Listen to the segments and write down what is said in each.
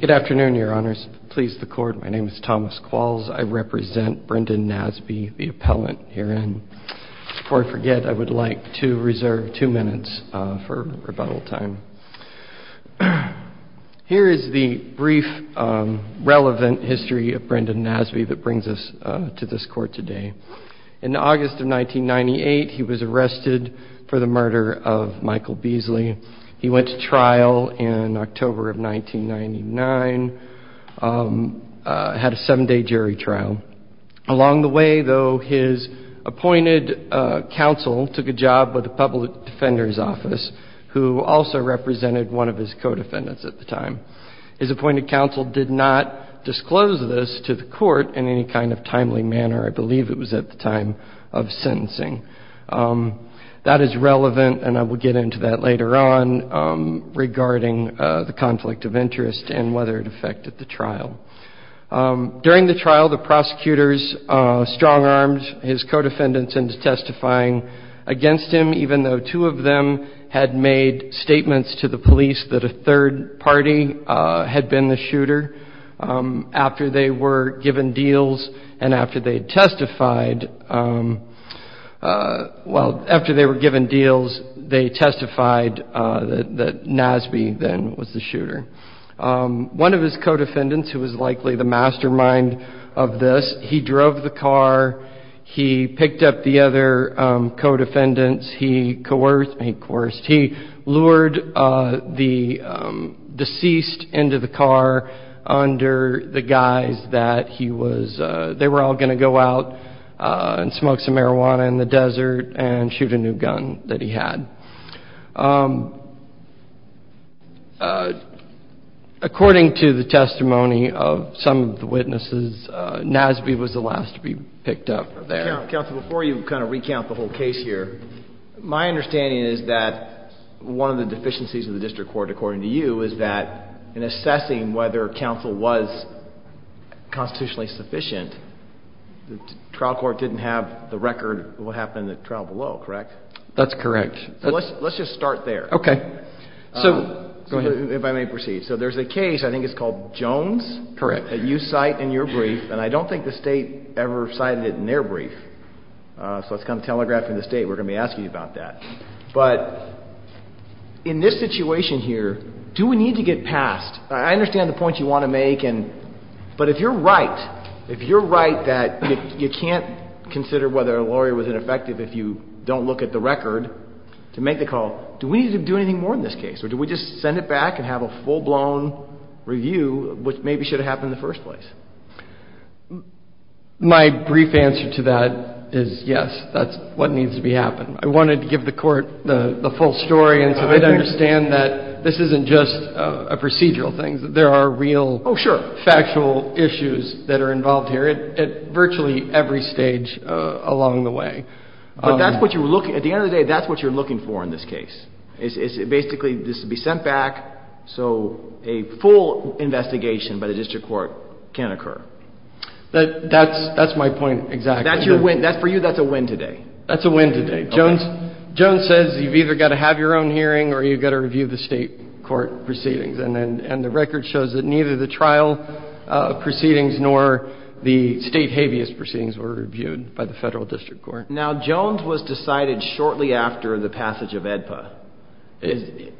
Good afternoon, your honors. Please the court. My name is Thomas Qualls. I represent Brendan Nasby, the appellant herein. Before I forget, I would like to reserve two minutes for rebuttal time. Here is the brief, relevant history of Brendan Nasby that brings us to this court today. In August of 1998, he was arrested for the murder of Michael Beasley. He went to trial in October of 1999, had a seven-day jury trial. Along the way, though, his appointed counsel took a job with the Public Defender's Office, who also represented one of his co-defendants at the time. His appointed counsel did not disclose this to the court in any kind of timely manner. I believe it was at the time of sentencing. That is relevant, and I will get into that later on, regarding the conflict of interest and whether it affected the trial. During the trial, the prosecutors strong-armed his co-defendants into testifying against him, even though two of them had made statements to the police that a third party had been the shooter. After they were given deals, they testified that Nasby then was the shooter. One of his co-defendants, who was likely the mastermind of this, he drove the car. He picked up the other co-defendants. He coerced, he lured the deceased into the car under the guise that he was, they were all going to go out and smoke some marijuana in the desert and shoot a new gun that he had. According to the testimony of some of the witnesses, Nasby was the last to be picked up there. Counsel, before you kind of recount the whole case here, my understanding is that one of the deficiencies of the district court, according to you, is that in assessing whether counsel was constitutionally sufficient, the trial court didn't have the record of what happened in the trial below, correct? That's correct. So let's just start there. Okay. So go ahead. If I may proceed. So there's a case, I think it's called Jones? Correct. That you cite in your brief, and I don't think the State ever cited it in their brief. So it's kind of telegraphing the State. We're going to be asking you about that. But in this situation here, do we need to get past, I understand the point you want to make, but if you're right, if you're right that you can't consider whether a lawyer was ineffective if you don't look at the record, to make the call, do we need to do anything more in this case, or do we just send it back and have a full-blown review of what maybe should have happened in the first place? My brief answer to that is yes. That's what needs to be happened. I wanted to give the Court the full story, and so they'd understand that this isn't just a procedural thing. There are real factual issues that are involved here at virtually every stage along the way. But that's what you're looking at. At the end of the day, that's what you're looking for in this case. It's basically this will be sent back so a full investigation by the district court can occur. That's my point exactly. That's your win. For you, that's a win today. That's a win today. Jones says you've either got to have your own hearing or you've got to review the State court proceedings. And the record shows that neither the trial proceedings nor the State habeas proceedings were reviewed by the Federal district court. Now, Jones was decided shortly after the passage of AEDPA.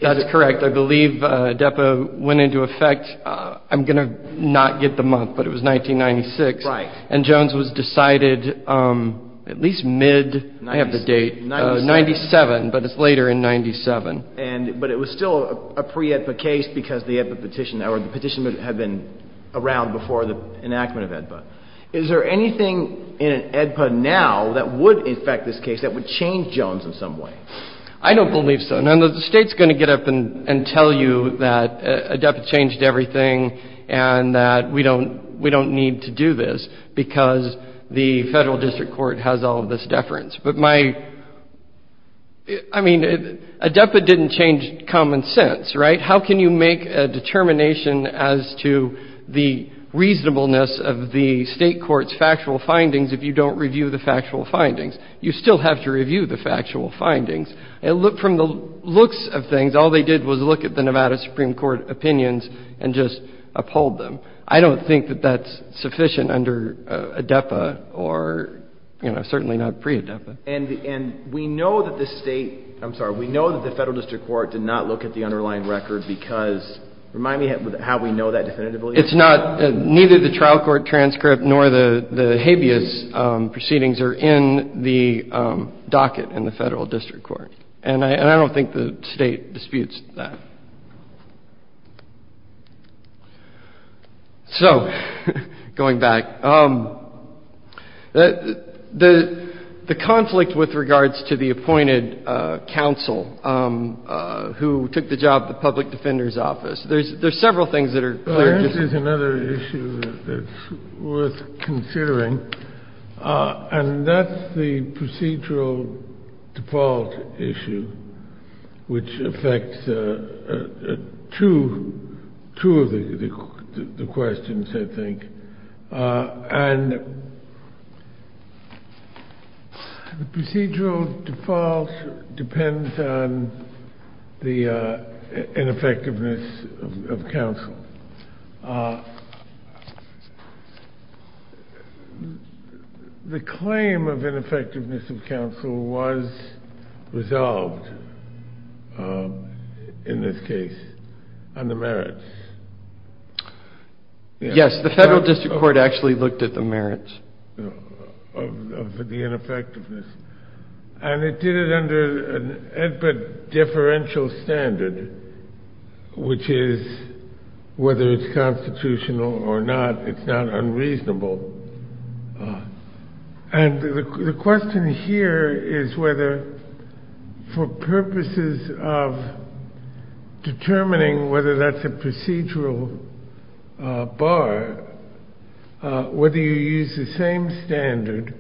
That's correct. I believe AEDPA went into effect, I'm going to not get the month, but it was 1996. Right. And Jones was decided at least mid, I have the date, 97, but it's later in 97. But it was still a pre-AEDPA case because the AEDPA petition or the petition had been around before the enactment of AEDPA. Is there anything in an AEDPA now that would affect this case, that would change Jones in some way? I don't believe so. Now, the State's going to get up and tell you that AEDPA changed everything and that we don't need to do this because the Federal district court has all of this deference. But my, I mean, AEDPA didn't change common sense, right? How can you make a determination as to the reasonableness of the State court's factual findings if you don't review the factual findings? You still have to review the factual findings. And look, from the looks of things, all they did was look at the Nevada Supreme Court opinions and just uphold them. I don't think that that's sufficient under AEDPA or, you know, certainly not pre-AEDPA. And we know that the State – I'm sorry. We know that the Federal district court did not look at the underlying record because – remind me how we know that definitively. It's not – neither the trial court transcript nor the habeas proceedings are in the docket in the Federal district court. And I don't think the State disputes that. So, going back, the conflict with regards to the appointed counsel who took the job of the public defender's office, there's several things that are clear. This is another issue that's worth considering, and that's the procedural default issue which affects two of the questions, I think. And the procedural default depends on the ineffectiveness of counsel. The claim of ineffectiveness of counsel was resolved in this case on the merits. Yes, the Federal district court actually looked at the merits of the ineffectiveness. And it did it under an AEDPA differential standard, which is whether it's constitutional or not, it's not unreasonable. And the question here is whether, for purposes of determining whether that's a procedural bar, whether you use the same standard,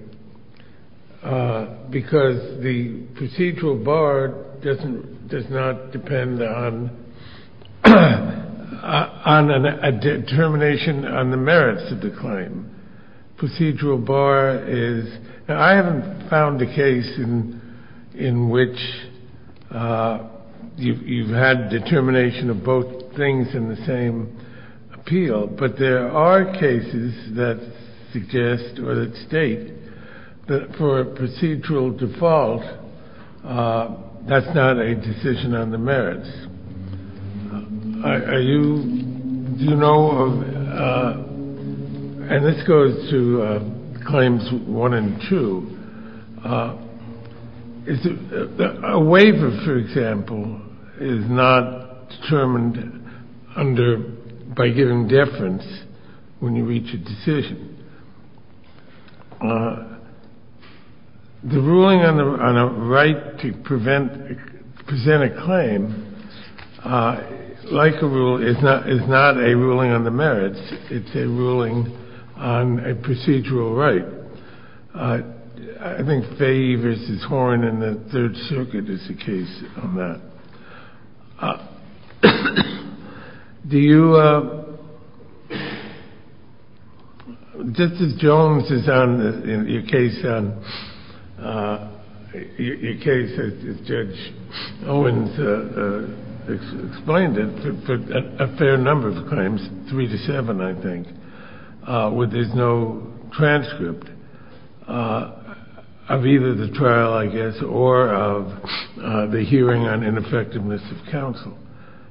because the procedural bar doesn't – does not depend on a determination on the merits of the claim. Procedural bar is – and I haven't found a case in which you've had determination of both things in the same appeal. But there are cases that suggest or that state that for a procedural default, that's not a decision on the merits. Are you – do you know of – and this goes to claims one and two. A waiver, for example, is not determined under – by giving deference when you reach a decision. The ruling on a right to prevent – present a claim, like a rule, is not a ruling on the merits. It's a ruling on a procedural right. I think Fahy v. Horn in the Third Circuit is a case on that. Do you – Justice Jones is on your case on – your case, as Judge Owens explained it, for a fair number of claims, three to seven, I think, where there's no transcript of either the trial, I guess, or of the hearing on ineffectiveness of counsel.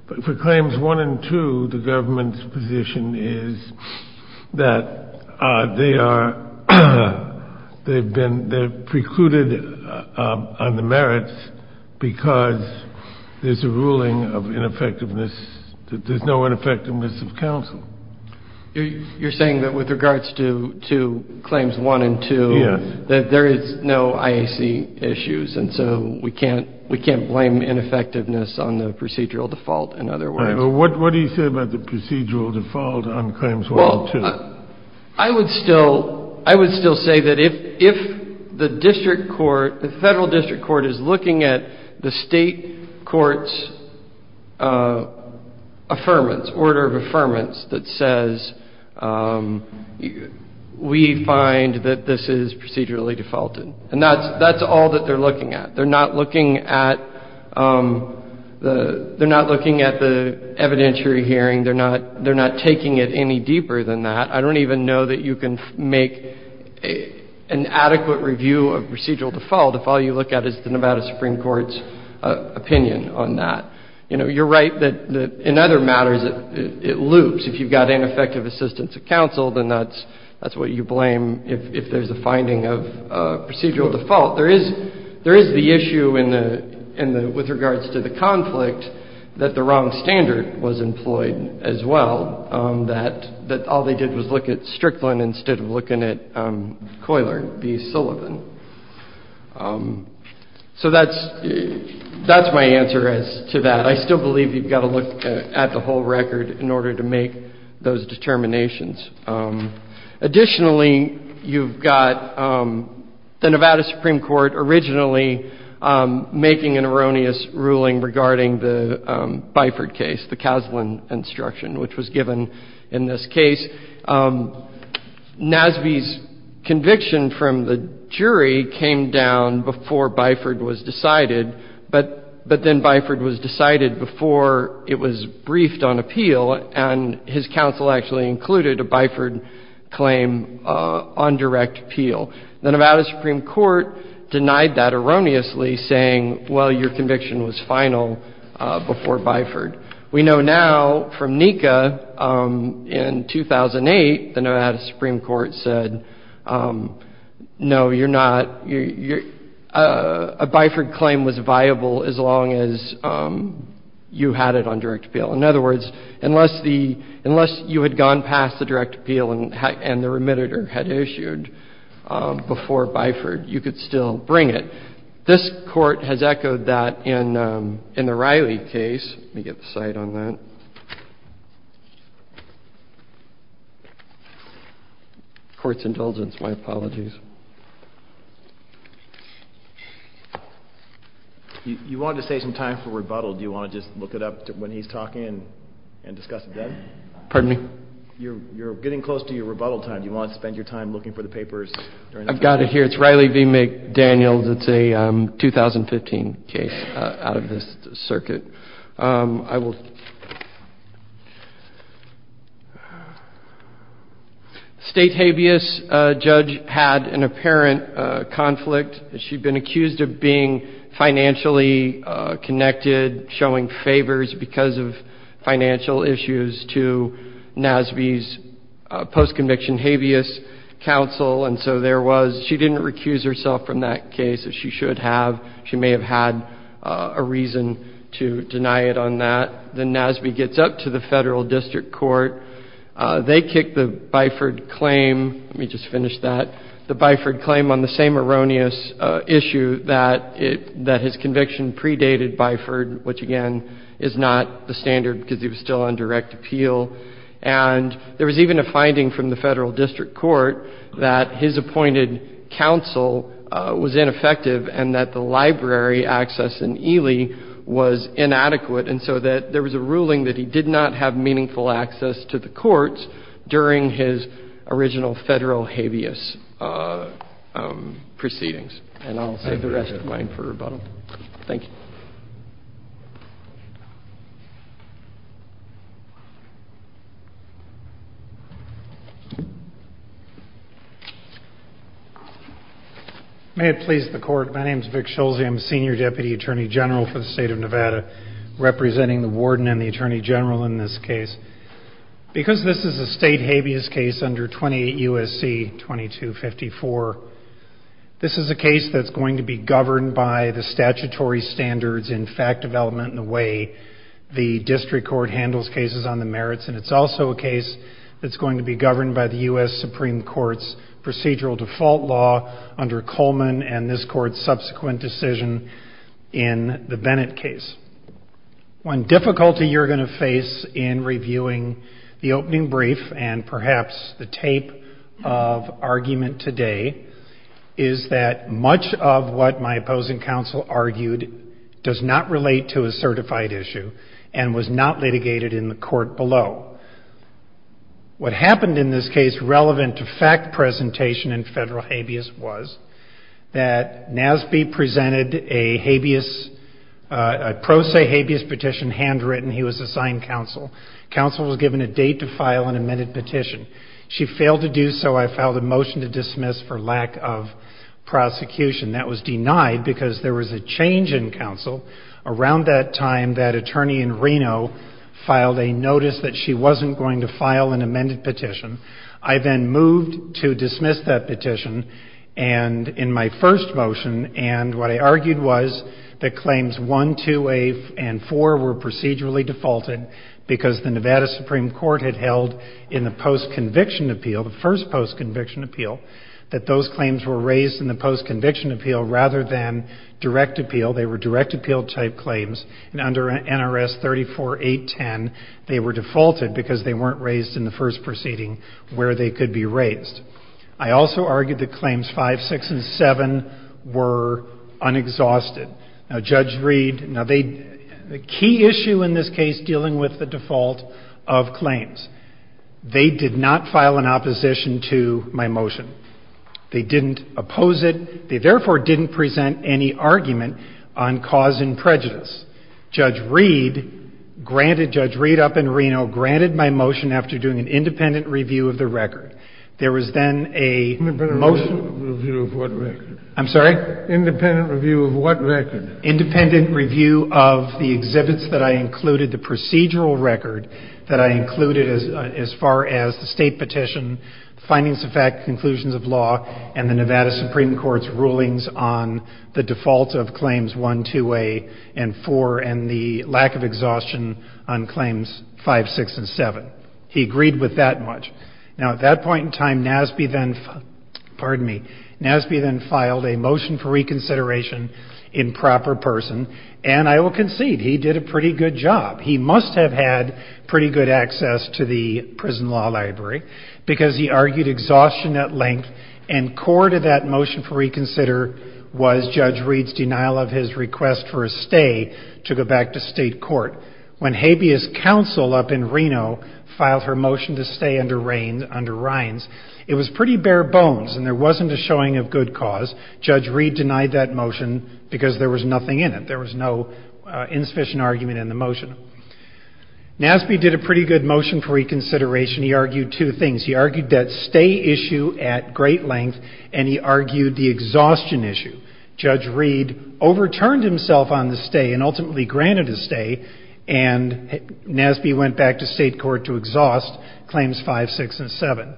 But for claims one and two, the government's position is that they are – they've been – they're precluded on the merits because there's a ruling of ineffectiveness – that there's no ineffectiveness of counsel. You're saying that with regards to claims one and two, that there is no IAC issues, and so we can't blame ineffectiveness on the procedural default, in other words? What do you say about the procedural default on claims one and two? Well, I would still – I would still say that if the district court, the Federal District Court, is looking at the State court's affirmance, order of affirmance that says we find that this is procedurally defaulted, and that's all that they're looking at. They're not looking at the – they're not looking at the evidentiary hearing. They're not – they're not taking it any deeper than that. I don't even know that you can make an adequate review of procedural default if all you look at is the Nevada Supreme Court's opinion on that. You know, you're right that in other matters it loops. If you've got ineffective assistance of counsel, then that's what you blame if there's a finding of procedural default. There is – there is the issue in the – with regards to the conflict that the wrong standard was employed as well, that all they did was look at Strickland instead of looking at Coyler v. Sullivan. So that's – that's my answer as to that. I still believe you've got to look at the whole record in order to make those determinations. Additionally, you've got the Nevada Supreme Court originally making an erroneous ruling regarding the Byford case, the Caslen instruction, which was given in this case. Nasby's conviction from the jury came down before Byford was decided, but then Byford was decided before it was briefed on appeal, and his counsel actually included a Byford claim on direct appeal. The Nevada Supreme Court denied that erroneously, saying, well, your conviction was final before Byford. We know now from NECA, in 2008, the Nevada Supreme Court said, no, you're not – a Byford claim was viable as long as you had it on direct appeal. In other words, unless the – unless you had gone past the direct appeal and the remitter had issued before Byford, you could still bring it. This court has echoed that in the Riley case. Let me get the site on that. Court's indulgence. My apologies. You wanted to save some time for rebuttal. Do you want to just look it up when he's talking and discuss it then? Pardon me? You're getting close to your rebuttal time. Do you want to spend your time looking for the papers? I've got it here. It's Riley v. McDaniels. It's a 2015 case out of this circuit. I will – State habeas judge had an apparent conflict. She'd been accused of being financially connected, showing favors because of financial issues, to NASB's post-conviction habeas counsel. And so there was – she didn't recuse herself from that case. She should have. She may have had a reason to deny it on that. Then NASB gets up to the Federal District Court. They kick the Byford claim. Let me just finish that. The Byford claim on the same erroneous issue that it – that his conviction predated Byford, which, again, is not the standard because he was still on direct appeal. And there was even a finding from the Federal District Court that his appointed counsel was ineffective and that the library access in Ely was inadequate, and so that there was a ruling that he did not have meaningful access to the courts during his original Federal habeas proceedings. And I'll save the rest of mine for rebuttal. Thank you. Thank you. May it please the Court. My name is Vic Schulze. I'm senior deputy attorney general for the state of Nevada, representing the warden and the attorney general in this case. Because this is a state habeas case under 28 U.S.C. 2254, this is a case that's going to be governed by the statutory standards in fact development in the way the district court handles cases on the merits, and it's also a case that's going to be governed by the U.S. Supreme Court's procedural default law under Coleman and this Court's subsequent decision in the Bennett case. One difficulty you're going to face in reviewing the opening brief and perhaps the tape of argument today is that much of what my opposing counsel argued does not relate to a certified issue and was not litigated in the court below. What happened in this case relevant to fact presentation in Federal habeas was that Nasby presented a habeas, a pro se habeas petition handwritten. He was assigned counsel. Counsel was given a date to file an amended petition. She failed to do so. I filed a motion to dismiss for lack of prosecution. That was denied because there was a change in counsel around that time that attorney in Reno filed a notice that she wasn't going to file an amended petition. I then moved to dismiss that petition and in my first motion, and what I argued was that claims 1, 2 and 4 were procedurally defaulted because the Nevada Supreme Court had held in the post-conviction appeal, the first post-conviction appeal, that those claims were raised in the post-conviction appeal rather than direct appeal. They were direct appeal type claims and under NRS 34810, they were defaulted because they weren't raised in the first proceeding where they could be raised. I also argued that claims 5, 6 and 7 were unexhausted. Now, Judge Reed, the key issue in this case dealing with the default of claims, they did not file an opposition to my motion. They didn't oppose it. They, therefore, didn't present any argument on cause and prejudice. Judge Reed, granted Judge Reed up in Reno, granted my motion after doing an independent review of the record. There was then a motion. I'm sorry? Independent review of what record? Independent review of the exhibits that I included, the procedural record that I included as far as the state petition, findings of fact, conclusions of law, and the Nevada Supreme Court's rulings on the default of claims 1, 2A and 4 and the lack of exhaustion on claims 5, 6 and 7. He agreed with that much. Now, at that point in time, NASB then filed a motion for reconsideration in proper person and I will concede he did a pretty good job. He must have had pretty good access to the prison law library because he argued exhaustion at length and core to that motion for reconsider was Judge Reed's denial of his request for a stay to go back to state court. When habeas counsel up in Reno filed her motion to stay under Reins, it was pretty bare bones and there wasn't a showing of good cause. Judge Reed denied that motion because there was nothing in it. There was no insufficient argument in the motion. NASB did a pretty good motion for reconsideration. He argued two things. He argued that stay issue at great length and he argued the exhaustion issue. Judge Reed overturned himself on the stay and ultimately granted his stay and NASB went back to state court to exhaust claims 5, 6 and 7.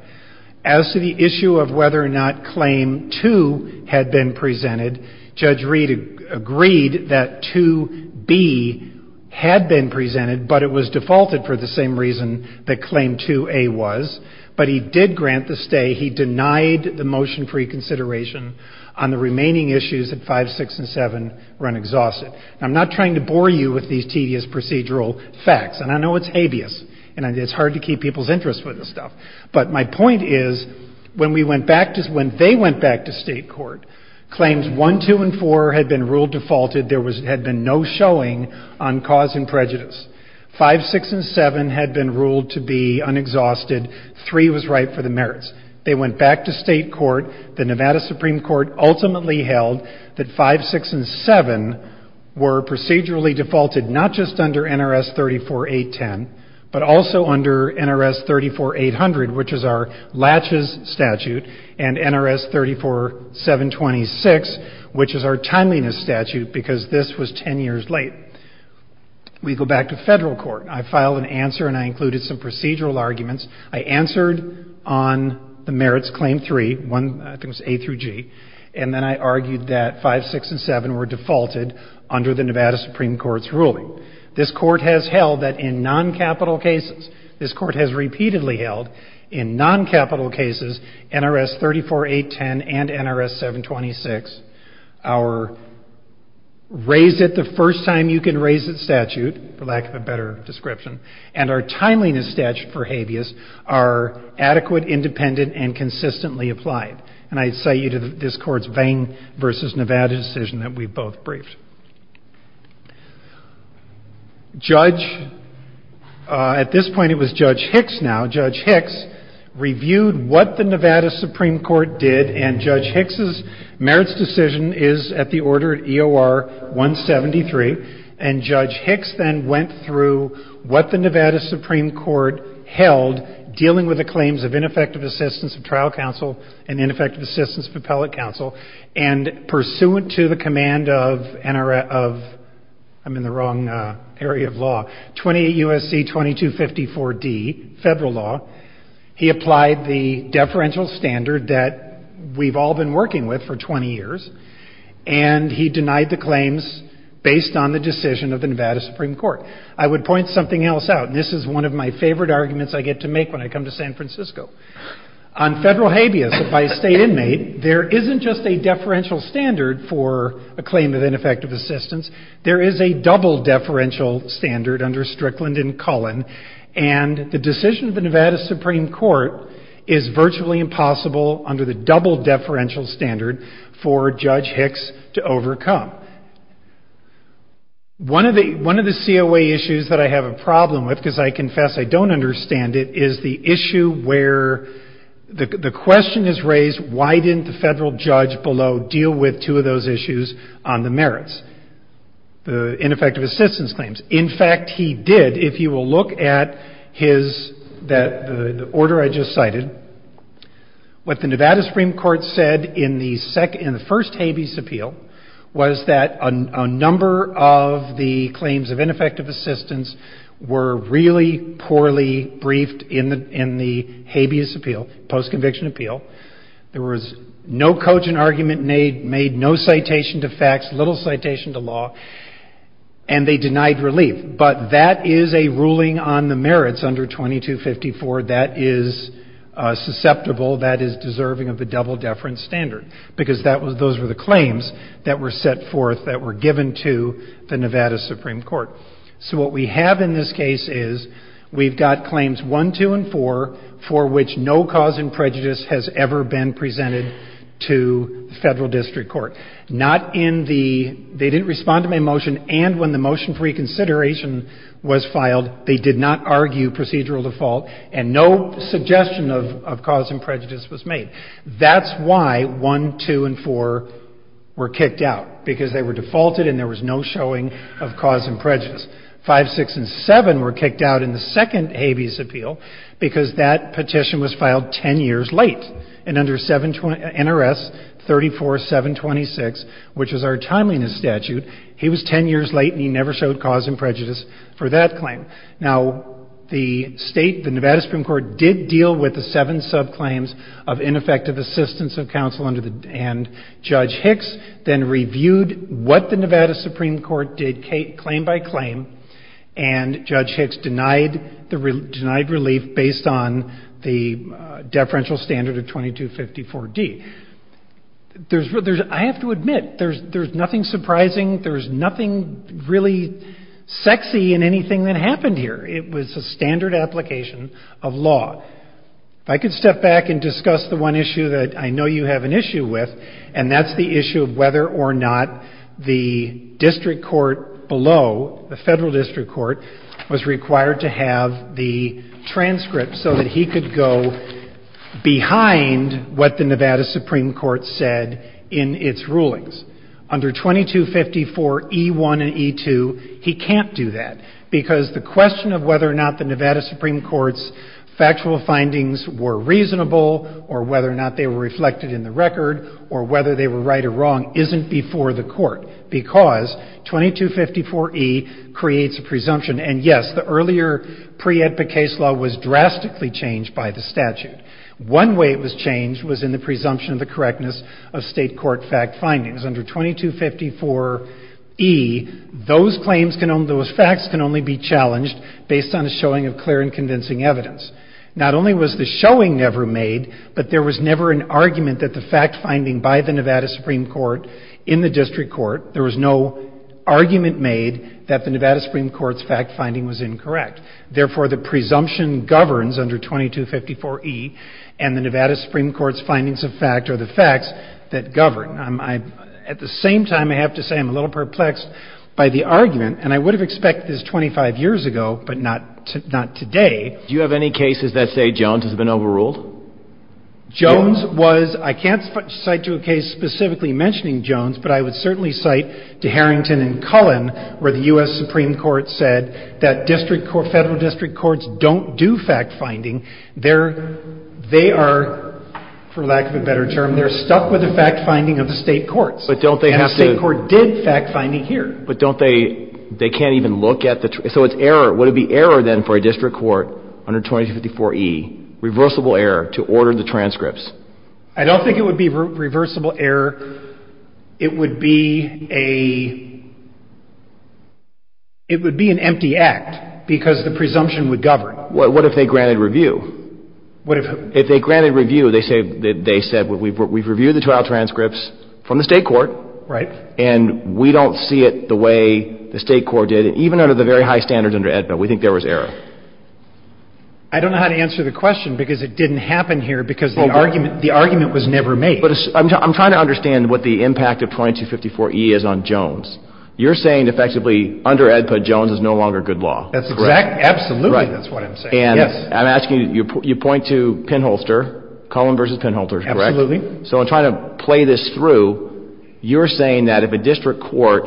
As to the issue of whether or not claim 2 had been presented, Judge Reed agreed that 2B had been presented but it was defaulted for the same reason that claim 2A was, but he did grant the stay. He denied the motion for reconsideration on the remaining issues at 5, 6 and 7 run exhausted. I'm not trying to bore you with these tedious procedural facts and I know it's habeas and it's hard to keep people's interest with this stuff, but my point is when they went back to state court, claims 1, 2 and 4 had been ruled defaulted. There had been no showing on cause and prejudice. 5, 6 and 7 had been ruled to be unexhausted. 3 was right for the merits. They went back to state court. The Nevada Supreme Court ultimately held that 5, 6 and 7 were procedurally defaulted not just under NRS 34810 but also under NRS 34800, which is our Latches statute and NRS 34726, which is our Timeliness statute because this was 10 years late. We go back to federal court. I filed an answer and I included some procedural arguments. I answered on the merits claim 3, 1, I think it was A through G, and then I argued that 5, 6 and 7 were defaulted under the Nevada Supreme Court's ruling. This court has held that in non-capital cases, this court has repeatedly held in non-capital cases, NRS 34810 and NRS 726, our Raise It the First Time You Can Raise It statute, for lack of a better description, and our Timeliness statute for habeas are adequate, independent, and consistently applied. And I cite you to this court's Vain v. Nevada decision that we both briefed. Judge, at this point it was Judge Hicks now, Judge Hicks reviewed what the Nevada Supreme Court did and Judge Hicks' merits decision is at the order of EOR 173, and Judge Hicks then went through what the Nevada Supreme Court held dealing with the claims of ineffective assistance of trial counsel and ineffective assistance of appellate counsel, and pursuant to the command of NRS, I'm in the wrong area of law, 28 U.S.C. 2254D, federal law, he applied the deferential standard that we've all been working with for 20 years, and he denied the claims based on the decision of the Nevada Supreme Court. I would point something else out, and this is one of my favorite arguments I get to make when I come to San Francisco. On federal habeas by a state inmate, there isn't just a deferential standard for a claim of ineffective assistance, there is a double deferential standard under Strickland and Cullen, and the decision of the Nevada Supreme Court is virtually impossible under the double deferential standard for Judge Hicks to overcome. One of the COA issues that I have a problem with, because I confess I don't understand it, is the issue where the question is raised, why didn't the federal judge below deal with two of those issues on the merits, the ineffective assistance claims? In fact, he did. If you will look at the order I just cited, what the Nevada Supreme Court said in the first habeas appeal was that a number of the claims of ineffective assistance were really poorly briefed in the habeas appeal, post-conviction appeal. There was no cogent argument made, no citation to facts, little citation to law, and they denied relief. But that is a ruling on the merits under 2254 that is susceptible, that is deserving of the double deferential standard, because those were the claims that were set forth, that were given to the Nevada Supreme Court. So what we have in this case is we've got claims one, two, and four, for which no cause in prejudice has ever been presented to the federal district court. Not in the — they didn't respond to my motion, and when the motion for reconsideration was filed, they did not argue procedural default and no suggestion of cause in prejudice was made. That's why one, two, and four were kicked out, because they were defaulted and there was no showing of cause in prejudice. Five, six, and seven were kicked out in the second habeas appeal, because that petition was filed 10 years late. And under NRS 34726, which is our timeliness statute, he was 10 years late and he never showed cause in prejudice for that claim. Now, the state, the Nevada Supreme Court, did deal with the seven subclaims of ineffective assistance of counsel under the — and Judge Hicks then reviewed what the Nevada Supreme Court did claim by claim, and Judge Hicks denied the — denied relief based on the deferential standard of 2254D. There's — I have to admit, there's nothing surprising, there's nothing really sexy in anything that happened here. It was a standard application of law. If I could step back and discuss the one issue that I know you have an issue with, and that's the issue of whether or not the district court below, the federal district court, was required to have the transcript so that he could go behind what the Nevada Supreme Court said in its rulings. Under 2254E1 and E2, he can't do that, because the question of whether or not the Nevada Supreme Court's factual findings were reasonable, or whether or not they were reflected in the record, or whether they were right or wrong isn't before the court, because 2254E creates a presumption. And yes, the earlier pre-edpa case law was drastically changed by the statute. One way it was changed was in the presumption of the correctness of state court fact findings. Under 2254E, those claims can only — those facts can only be challenged based on a showing of clear and convincing evidence. Not only was the showing never made, but there was never an argument that the fact finding by the Nevada Supreme Court in the district court, there was no argument made that the Nevada Supreme Court's fact finding was incorrect. Therefore, the presumption governs under 2254E, and the Nevada Supreme Court's findings of fact are the facts that govern. At the same time, I have to say I'm a little perplexed by the argument, and I would have expected this 25 years ago, but not today. Do you have any cases that say Jones has been overruled? Jones was — I can't cite to a case specifically mentioning Jones, but I would certainly cite to Harrington and Cullen, where the U.S. Supreme Court said that district court — Federal district courts don't do fact finding. They're — they are, for lack of a better term, they're stuck with the fact finding of the state courts. But don't they have to — And the state court did fact finding here. But don't they — they can't even look at the — so it's error. Would it be error, then, for a district court under 2254E, reversible error, to order the transcripts? I don't think it would be reversible error. It would be a — it would be an empty act because the presumption would govern. What if they granted review? What if — If they granted review, they say — they said we've reviewed the trial transcripts from the state court. Right. And we don't see it the way the state court did, even under the very high standards under AEDPA. We think there was error. I don't know how to answer the question because it didn't happen here because the argument — the argument was never made. But I'm trying to understand what the impact of 2254E is on Jones. You're saying, effectively, under AEDPA, Jones is no longer good law. That's correct. Absolutely, that's what I'm saying. Yes. And I'm asking — you point to Pinholster, Cullen v. Pinholster, correct? Absolutely. So I'm trying to play this through. You're saying that if a district court,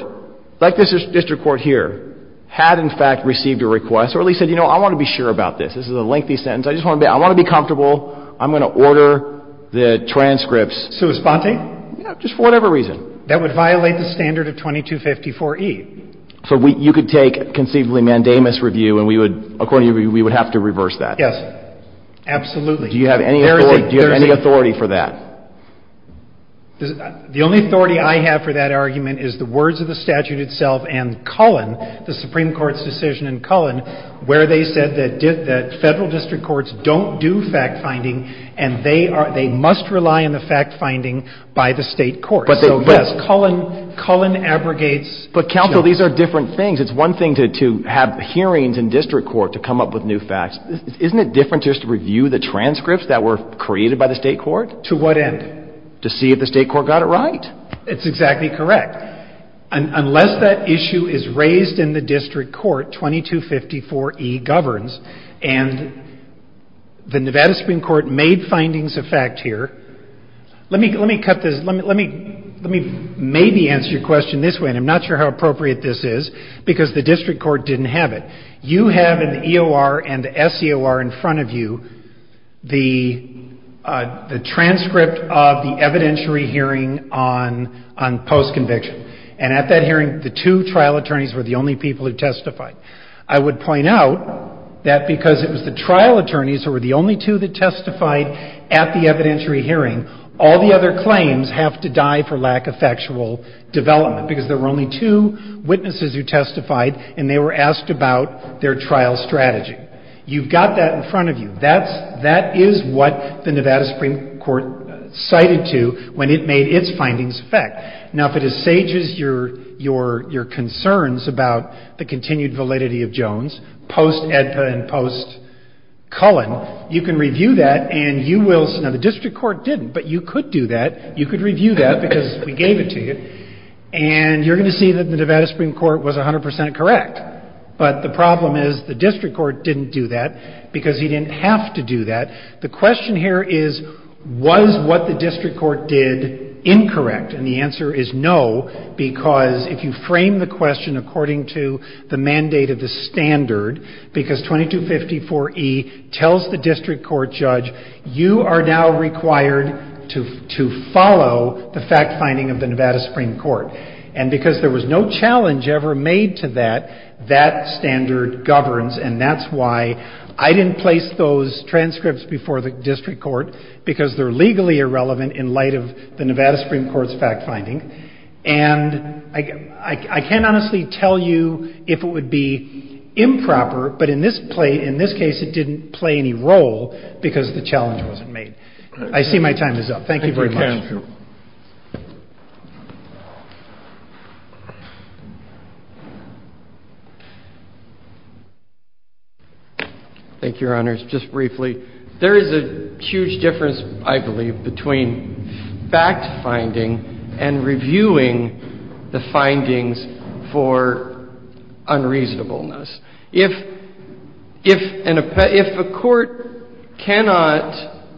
like this district court here, had in fact received a request or at least said, you know, I want to be sure about this. This is a lengthy sentence. I just want to be — I want to be comfortable. I'm going to order the transcripts. Sui sponte? Yeah, just for whatever reason. That would violate the standard of 2254E. So you could take conceivably mandamus review and we would — according to you, we would have to reverse that. Yes. Absolutely. Do you have any authority — There is a — The only authority I have for that argument is the words of the statute itself and Cullen, the Supreme Court's decision in Cullen, where they said that federal district courts don't do fact-finding and they must rely on the fact-finding by the state court. So, yes, Cullen abrogates — But, counsel, these are different things. It's one thing to have hearings in district court to come up with new facts. Isn't it different just to review the transcripts that were created by the state court? To what end? To see if the state court got it right. It's exactly correct. Unless that issue is raised in the district court, 2254E governs, and the Nevada Supreme Court made findings of fact here. Let me cut this. Let me maybe answer your question this way, and I'm not sure how appropriate this is, because the district court didn't have it. You have in the EOR and the SEOR in front of you the transcript of the evidentiary hearing on post-conviction. And at that hearing, the two trial attorneys were the only people who testified. I would point out that because it was the trial attorneys who were the only two that testified at the evidentiary hearing, all the other claims have to die for lack of factual development, because there were only two witnesses who testified, and they were asked about their trial strategy. You've got that in front of you. That is what the Nevada Supreme Court cited to when it made its findings of fact. Now, if it assages your concerns about the continued validity of Jones post-EDPA and post-Cullen, you can review that, and you will see. Now, the district court didn't, but you could do that. You could review that, because we gave it to you. And you're going to see that the Nevada Supreme Court was 100 percent correct. But the problem is the district court didn't do that, because he didn't have to do that. The question here is, was what the district court did incorrect? And the answer is no, because if you frame the question according to the mandate of the standard, because 2254E tells the district court judge, you are now required to follow the fact-finding of the Nevada Supreme Court. And because there was no challenge ever made to that, that standard governs, and that's why I didn't place those transcripts before the district court, because they're legally irrelevant in light of the Nevada Supreme Court's fact-finding. And I can't honestly tell you if it would be improper, but in this case, it didn't play any role because the challenge wasn't made. I see my time is up. Thank you very much. Thank you. Thank you, Your Honors. If I could just add one thing, Your Honors, just briefly. There is a huge difference, I believe, between fact-finding and reviewing the findings for unreasonableness. If a court cannot –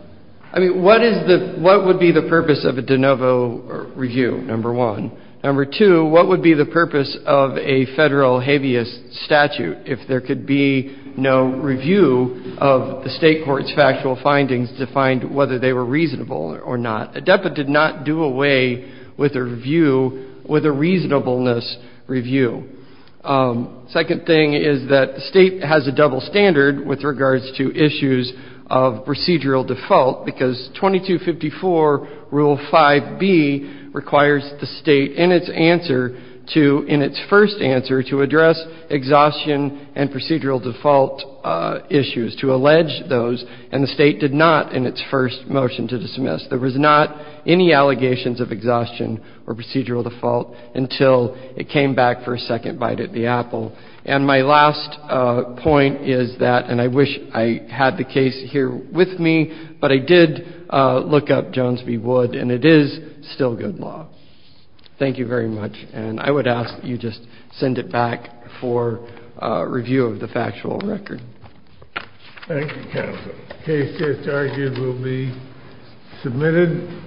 I mean, what would be the purpose of a de novo review, number one? Number two, what would be the purpose of a Federal habeas statute if there could be no review of the State court's factual findings to find whether they were reasonable or not? A deputant did not do away with a review, with a reasonableness review. Second thing is that the State has a double standard with regards to issues of procedural default because 2254 Rule 5b requires the State in its answer to – in its first answer to address exhaustion and procedural default issues, to allege those, and the State did not in its first motion to dismiss. There was not any allegations of exhaustion or procedural default until it came back for a second bite at the apple. And my last point is that – and I wish I had the case here with me, but I did look up Jones v. Wood, and it is still good law. Thank you very much. And I would ask that you just send it back for review of the factual record. Thank you, counsel. The case just argued will be submitted.